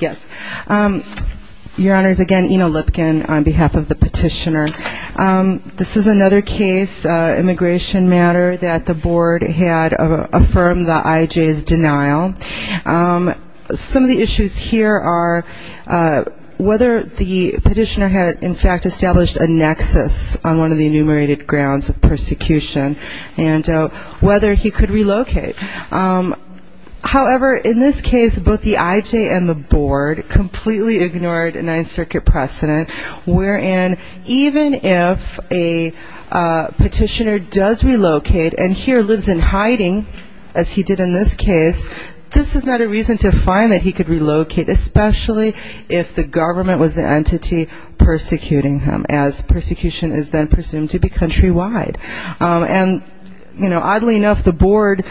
Yes, Your Honors, again, Ina Lipkin on behalf of the petitioner. This is another case, immigration matter, that the board had affirmed the IJ's denial. Some of the issues here are whether the petitioner had in fact established a nexus on one of the enumerated grounds of persecution and whether he could relocate. However, in this case, both the IJ and the board completely ignored a Ninth Circuit precedent, wherein even if a petitioner does relocate and here lives in hiding, as he did in this case, this is not a reason to find that he could relocate, especially if the government was the entity persecuting him, as persecution is then presumed to be countrywide. And oddly enough, the board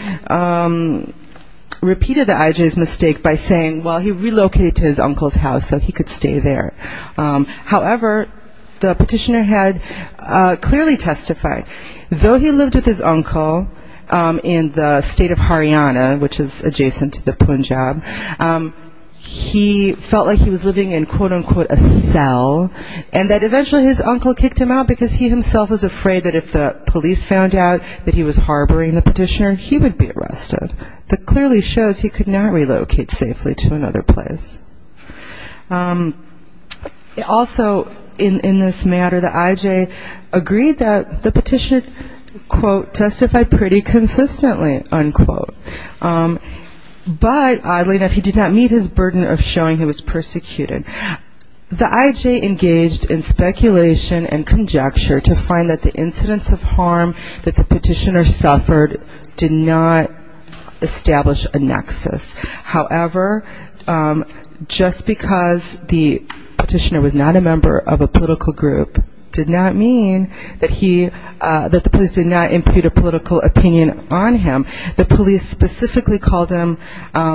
repeated the IJ's mistake by saying, well, he relocated to his uncle's house, so he could stay there. However, the petitioner had clearly testified, though he lived with his uncle in the state of Haryana, which is adjacent to the Punjab, he felt like he was living in, quote, unquote, a cell, and that eventually his uncle kicked him out because he himself was afraid that if the police found out that he was harboring the petitioner, he would be arrested. That clearly shows he could not relocate safely to another place. Also, in this matter, the IJ agreed that the petitioner, quote, testified pretty consistently, unquote. But oddly enough, he did not meet his burden of showing he was persecuted. The IJ engaged in speculation and conjecture to find that the incidents of harm that the petitioner suffered did not establish a nexus. However, just because the petitioner was not a member of a political group did not mean that he, that the police did not impute a political opinion on him. The police specifically called him a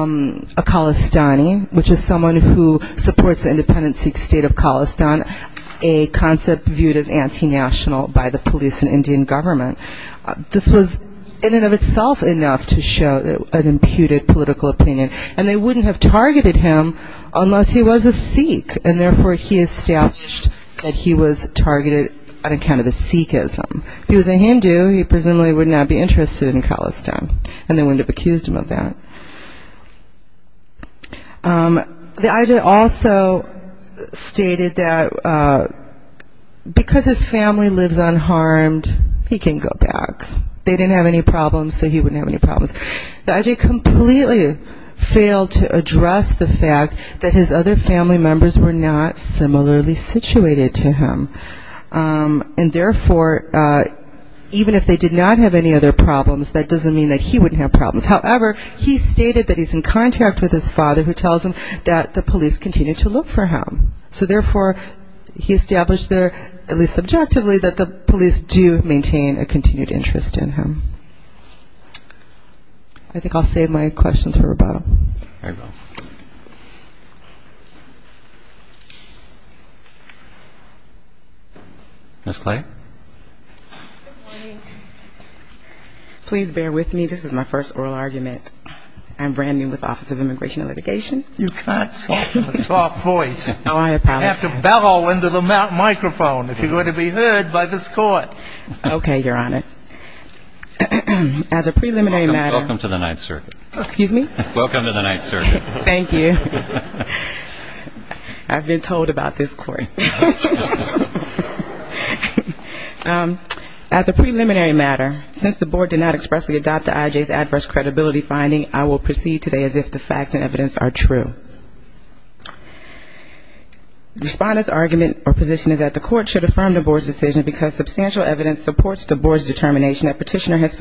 Khalistani, which is someone who supports the independent Sikh state of Khalistan, a concept viewed as anti-national by the police and Indian government. This was in and of itself enough to show an imputed political opinion, and they wouldn't have targeted him unless he was a Sikh, and therefore he established that he was targeted on account of his Sikhism. If he was a Hindu, he presumably would not be interested in Khalistan, and they wouldn't have accused him of that. The IJ also stated that because his family lives unharmed, he can go back. They didn't have any problems, so he wouldn't have any problems. The IJ completely failed to address the fact that his other family members were not similarly situated to him. And therefore, even if they did not have any other problems, that doesn't mean that he wouldn't have problems. However, he stated that he's in contact with his father, who tells him that the police continue to look for him. So therefore, he established there, at least subjectively, that the police do maintain a continued interest in him. I think I'll save my questions for rebuttal. Ms. Clay? Please bear with me. This is my first oral argument. I'm brand new with the Office of Immigration and Litigation. You've got a soft voice. You have to bellow into the microphone if you're going to be heard by this Court. Okay, Your Honor. As a preliminary matter — Welcome to the Ninth Circuit. Thank you. I've been told about this Court. As a preliminary matter, since the Board did not expressly adopt the IJ's adverse credibility finding, I will proceed today as if the facts and evidence are true. Respondent's argument or position is that the Court should affirm the Board's decision because substantial evidence supports the Board's determination that Petitioner has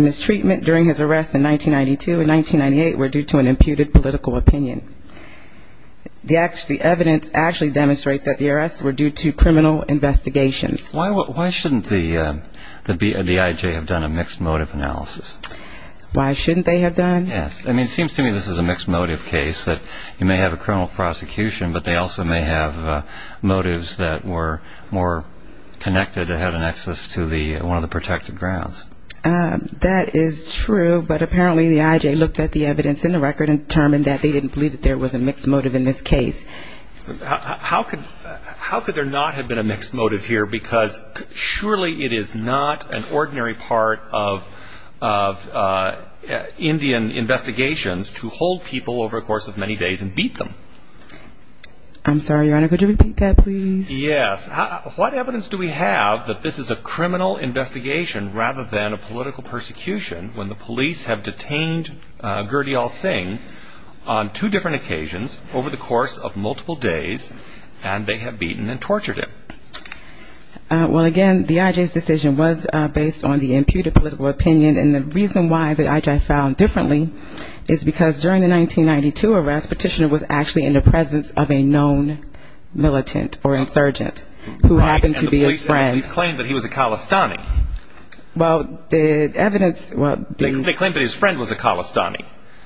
mistreatment during his arrest in 1992 and 1998 were due to an imputed political opinion. The evidence actually demonstrates that the arrests were due to criminal investigations. Why shouldn't the IJ have done a mixed motive analysis? Why shouldn't they have done? Yes. I mean, it seems to me this is a mixed motive case, that you may have a criminal prosecution, but they also may have motives that were more connected and had an access to one of the protected grounds. That is true, but apparently the IJ looked at the evidence in the record and determined that they didn't believe that there was a mixed motive in this case. How could there not have been a mixed motive here? Because surely it is not an ordinary part of Indian investigations to hold people over a course of many days and beat them. I'm sorry, Your Honor. Could you repeat that, please? Yes. What evidence do we have that this is a criminal investigation rather than a political persecution when the police have detained Gurdial Singh on two different occasions over the course of multiple days and they have beaten and tortured him? Well, again, the IJ's decision was based on the imputed political opinion, and the reason why the IJ found differently is because during the 1992 arrest, Petitioner was actually in the presence of a known militant or insurgent who happened to be his friend. Right, and the police claimed that he was a Khalistani. Well, the evidence, well, the... They claimed that his friend was a Khalistani.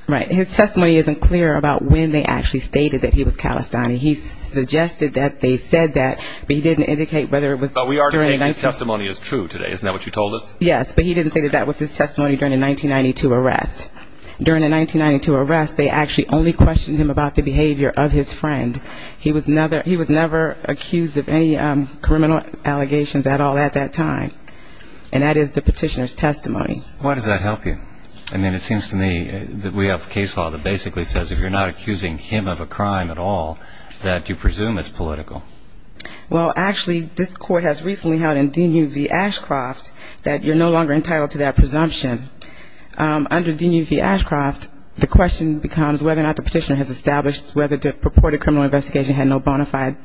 Right. His testimony isn't clear about when they actually stated that he was Khalistani. He suggested that they said that, but he didn't indicate whether it was during... But we are saying his testimony is true today, isn't that what you told us? Yes, but he didn't say that that was his testimony during the 1992 arrest. During the 1992 arrest, they actually only questioned him about the behavior of his friend. He was never accused of any criminal allegations at all at that time. And that is the Petitioner's testimony. Why does that help you? I mean, it seems to me that we have a case law that basically says if you're not accusing him of a crime at all, that you presume it's political. Well, actually, this court has recently held in D.U.V. Ashcroft that you're no longer entitled to that presumption. Under D.U.V. Ashcroft, the question becomes whether or not the Petitioner has established whether the purported criminal investigation had no bona fide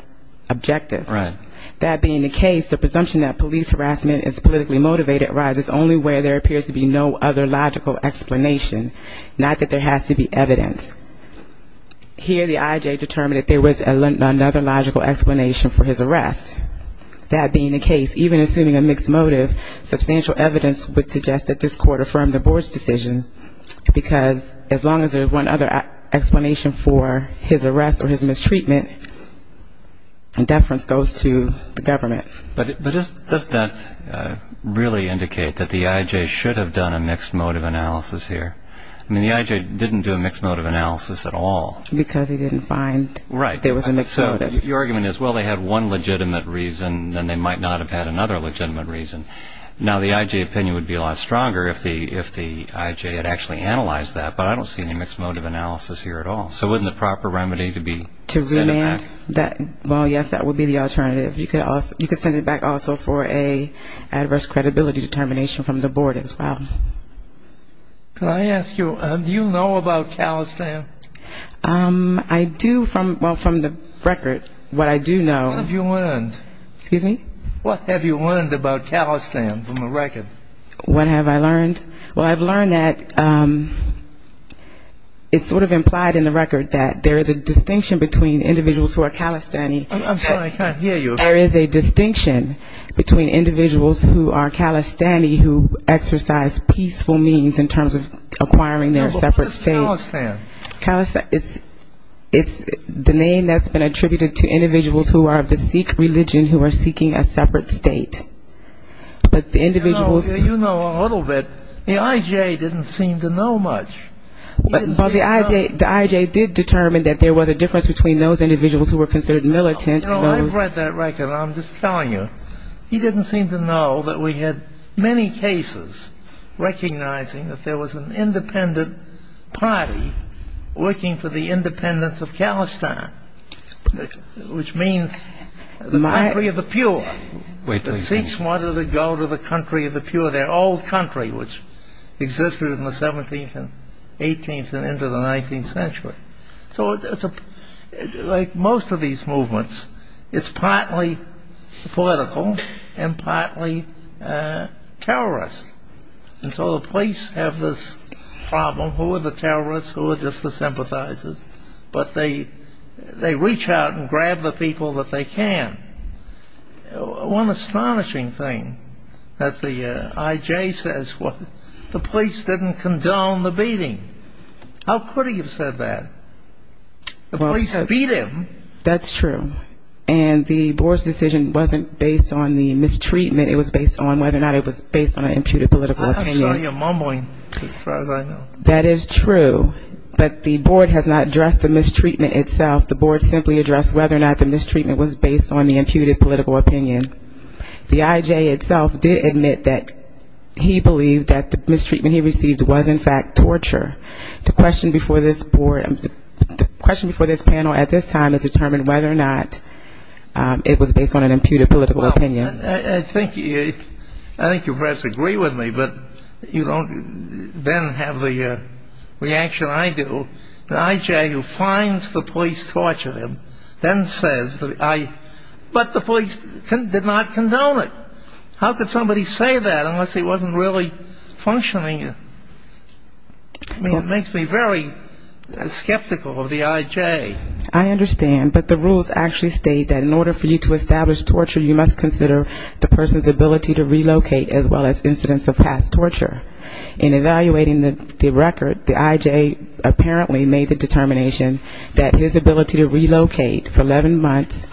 objective. Right. That being the case, the presumption that police harassment is politically motivated arises only where there appears to be no other logical explanation, not that there has to be evidence. Here, the I.I.J. determined that there was another logical explanation for his arrest. That being the case, even assuming a mixed motive, substantial evidence would suggest that this court affirmed the board's decision because as long as there's one other explanation for his arrest or his mistreatment, deference goes to the government. But does that really indicate that the I.I.J. should have done a mixed motive analysis here? I mean, the I.I.J. didn't do a mixed motive analysis at all. Because he didn't find there was a mixed motive. So your argument is, well, they had one legitimate reason, then they might not have had another legitimate reason. Now, the I.I.J. opinion would be a lot stronger if the I.I.J. had actually analyzed that, but I don't see any mixed motive analysis here at all. So wouldn't the proper remedy be to send it back? Well, yes, that would be the alternative. You could send it back also for an adverse credibility determination from the board as well. Can I ask you, do you know about Calistan? I do from the record. What I do know. What have you learned? Excuse me? What have you learned about Calistan from the record? What have I learned? Well, I've learned that it's sort of implied in the record that there is a distinction between individuals who are Calistani. I'm sorry, I can't hear you. There is a distinction between individuals who are Calistani who exercise peaceful means in terms of acquiring their separate states. Calistan. Calistan. It's the name that's been attributed to individuals who are of the Sikh religion who are seeking a separate state. But the individuals... You know a little bit. The I.I.J. didn't seem to know much. But the I.I.J. did determine that there was a difference between those individuals who were considered militant and those... You know, I've read that record, and I'm just telling you. He didn't seem to know that we had many cases recognizing that there was an independent party working for the independence of Calistan, which means the country of the pure. The Sikhs wanted to go to the country of the pure. Their old country, which existed in the 17th and 18th and into the 19th century. So like most of these movements, it's partly political and partly terrorist. And so the police have this problem. Who are the terrorists? Who are just the sympathizers? But they reach out and grab the people that they can. One astonishing thing that the I.I.J. says, the police didn't condone the beating. How could he have said that? The police beat him. That's true. And the board's decision wasn't based on the mistreatment. It was based on whether or not it was based on an imputed political opinion. I'm sorry, you're mumbling, as far as I know. That is true. But the board has not addressed the mistreatment itself. The board simply addressed whether or not the mistreatment was based on the imputed political opinion. The I.I.J. itself did admit that he believed that the mistreatment he received was, in fact, torture. The question before this panel at this time is determined whether or not it was based on an imputed political opinion. I think you perhaps agree with me, but you don't then have the reaction I do. The I.I.J. who finds the police torture him then says, but the police did not condone it. How could somebody say that unless he wasn't really functioning? I mean, it makes me very skeptical of the I.I.J. I understand, but the rules actually state that in order for you to establish torture, you must consider the person's ability to relocate as well as incidents of past torture. In evaluating the record, the I.I.J. apparently made the determination that his ability to relocate for 11 months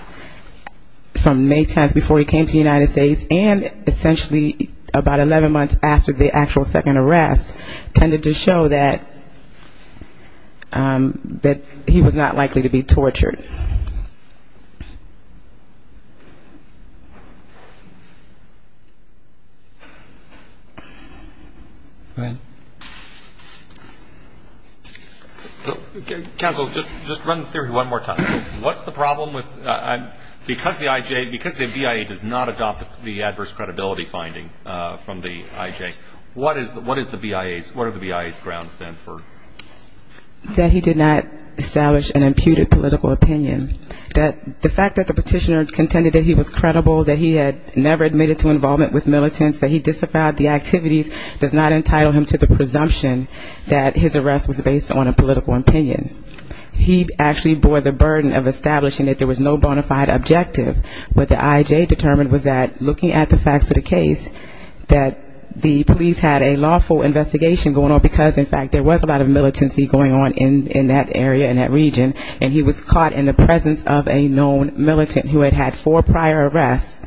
from May 10th before he came to the United States and essentially about 11 months after the actual second arrest, tended to show that he was not likely to be tortured. Go ahead. Counsel, just run the theory one more time. What's the problem with the I.I.J.? Because the BIA does not adopt the adverse credibility finding from the I.I.J., what are the BIA's grounds then for? That he did not establish an imputed political opinion. The fact that the petitioner contended that he was credible, that he had never admitted to involvement with militants, that he disavowed the activities, does not entitle him to the presumption that his arrest was based on a political opinion. He actually bore the burden of establishing that there was no bona fide objective. What the I.I.J. determined was that looking at the facts of the case, that the police had a lawful investigation going on, because in fact there was a lot of militancy going on in that area, in that region, and he was caught in the presence of a known militant who had had four prior arrests.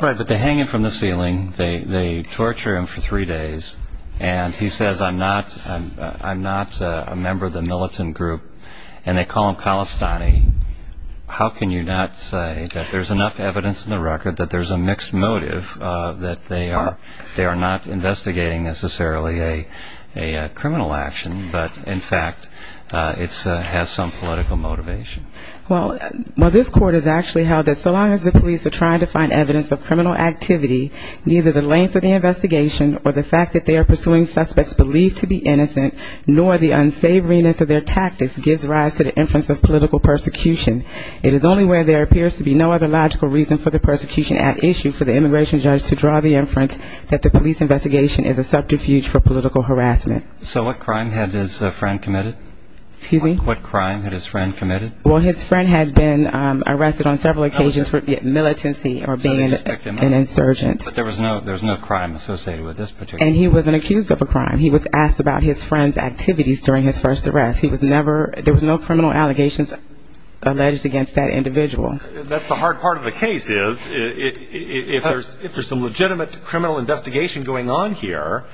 Right, but they hang him from the ceiling, they torture him for three days, and he says, I'm not a member of the militant group, and they call him Khalistani. How can you not say that there's enough evidence in the record that there's a mixed motive, that they are not investigating necessarily a criminal action, but in fact it has some political motivation? Well, this court has actually held that so long as the police are trying to find evidence of criminal activity, neither the length of the investigation or the fact that they are pursuing suspects believed to be innocent, nor the unsavoriness of their tactics gives rise to the inference of political persecution. It is only where there appears to be no other logical reason for the persecution at issue for the immigration judge to draw the inference that the police investigation is a subterfuge for political harassment. So what crime had his friend committed? Well, his friend had been arrested on several occasions for militancy or being an insurgent. But there was no crime associated with this particular case? And he wasn't accused of a crime. He was asked about his friend's activities during his first arrest. There was no criminal allegations alleged against that individual. That's the hard part of the case, is if there's some legitimate criminal investigation going on here,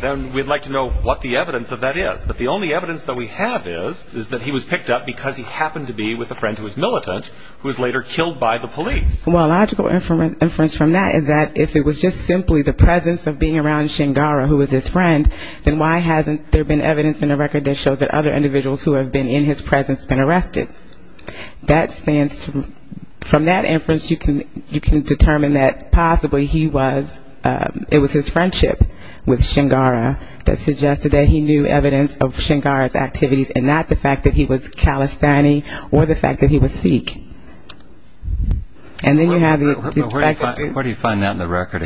then we'd like to know what the evidence of that is. But the only evidence that we have is that he was picked up because he happened to be with a friend who was militant, who was later killed by the police. Well, a logical inference from that is that if it was just simply the presence of being around Shingara, who was his friend, then why hasn't there been evidence in the record that shows that other individuals who have been in his presence have been arrested? From that inference, you can determine that possibly he was, it was his friendship with Shingara that suggested that he knew evidence of Shingara's activities, and not the fact that he was Calisthani or the fact that he was Sikh. And then you have the fact that... Even the record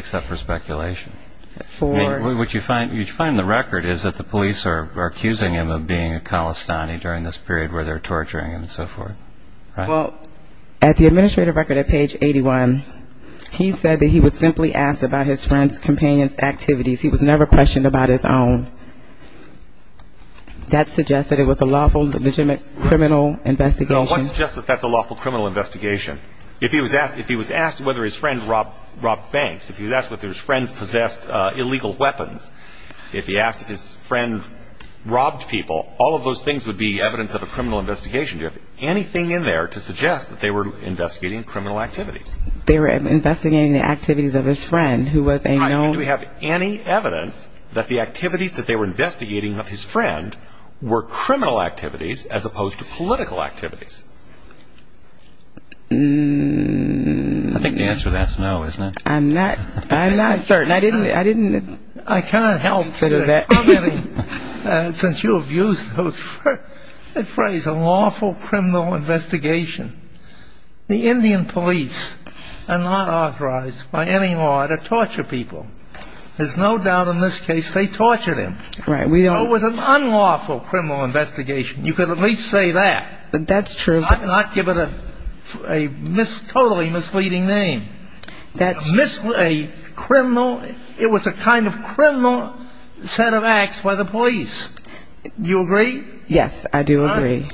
is that the police are accusing him of being a Calistani during this period where they're torturing him and so forth. Well, at the administrative record at page 81, he said that he was simply asked about his friend's companion's activities. He was never questioned about his own. That suggests that it was a lawful, legitimate criminal investigation. No, it's not just that that's a lawful criminal investigation. If he was asked whether his friend robbed banks, if he was asked whether his friends possessed illegal weapons, if he asked if his friend robbed people, all of those things would be evidence of a criminal investigation. Do you have anything in there to suggest that they were investigating criminal activities? They were investigating the activities of his friend, who was a known... Right. And do we have any evidence that the activities that they were investigating of his friend were criminal activities as opposed to political activities? I think the answer to that is no, isn't it? I'm not certain. I didn't... I can't help, since you abused the phrase, a lawful criminal investigation. The Indian police are not authorized by any law to torture people. There's no doubt in this case they tortured him. It was an unlawful criminal investigation. You could at least say that. That's true. Not give it a totally misleading name. It was a kind of criminal set of acts by the police. Do you agree? Yes, I do agree.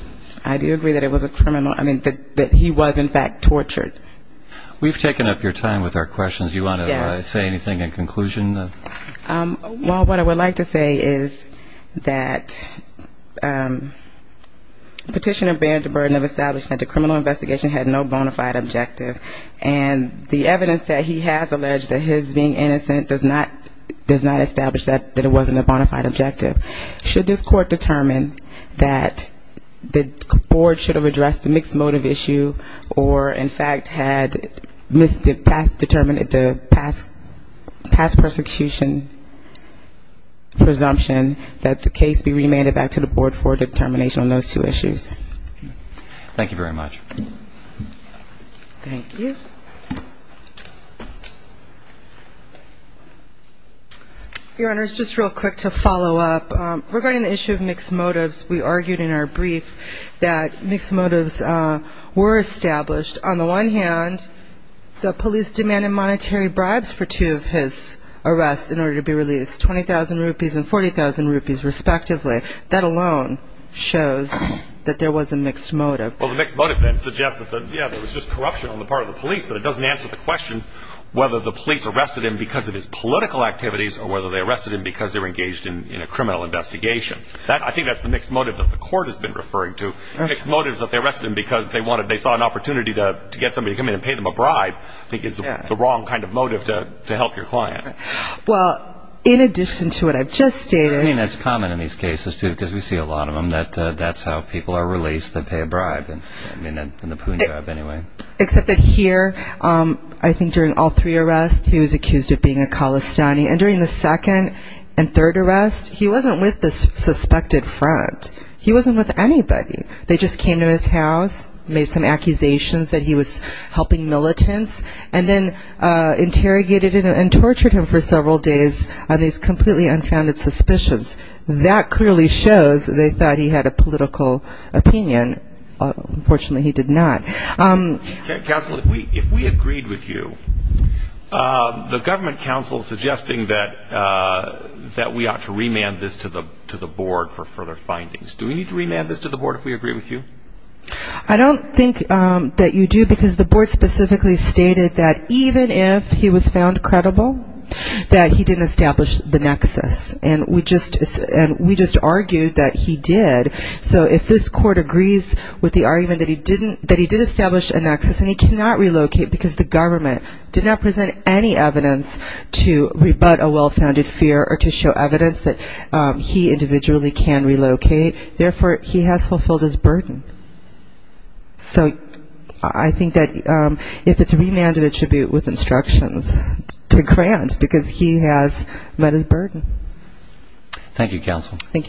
I do agree that it was a criminal, I mean, that he was, in fact, tortured. We've taken up your time with our questions. Do you want to say anything in conclusion? Well, what I would like to say is that petitioner bared the burden of establishing that the criminal investigation had no bona fide objective, and the evidence that he has alleged that his being innocent does not establish that it wasn't a bona fide objective. Should this court determine that the board should have addressed the mixed motive issue or, in fact, had determined the past persecution presumption, that the case be remanded back to the board for determination on those two issues? Thank you very much. Thank you. Your Honors, just real quick to follow up. Regarding the issue of mixed motives, we argued in our brief that mixed motives were established. On the one hand, the police demanded monetary bribes for two of his arrests in order to be released, 20,000 rupees and 40,000 rupees, respectively. That alone shows that there was a mixed motive. Well, the mixed motive then suggests that, yeah, there was just corruption on the part of the police, but it doesn't answer the question whether the police arrested him because of his political activities or whether they arrested him because they were engaged in a criminal investigation. I think that's the mixed motive that the court has been referring to. Mixed motives that they arrested him because they saw an opportunity to get somebody to come in and pay them a bribe I think is the wrong kind of motive to help your client. Well, in addition to what I've just stated. I mean, that's common in these cases, too, because we see a lot of them that that's how people are released, they pay a bribe in the poon job anyway. Except that here, I think during all three arrests, he was accused of being a Khalistani. And during the second and third arrests, he wasn't with the suspected front. He wasn't with anybody. They just came to his house, made some accusations that he was helping militants, and then interrogated and tortured him for several days on these completely unfounded suspicions. That clearly shows they thought he had a political opinion. Unfortunately, he did not. Counsel, if we agreed with you, the government counsel suggesting that we ought to remand this to the board for further findings. Do we need to remand this to the board if we agree with you? I don't think that you do, because the board specifically stated that even if he was found credible, that he didn't establish the nexus. And we just argued that he did. So if this court agrees with the argument that he did establish a nexus and he cannot relocate because the government did not present any evidence to rebut a well-founded fear or to show evidence that he individually can relocate. Therefore, he has fulfilled his burden. So I think that if it's remanded, it should be with instructions to grant, because he has met his burden. Thank you, counsel. Thank you.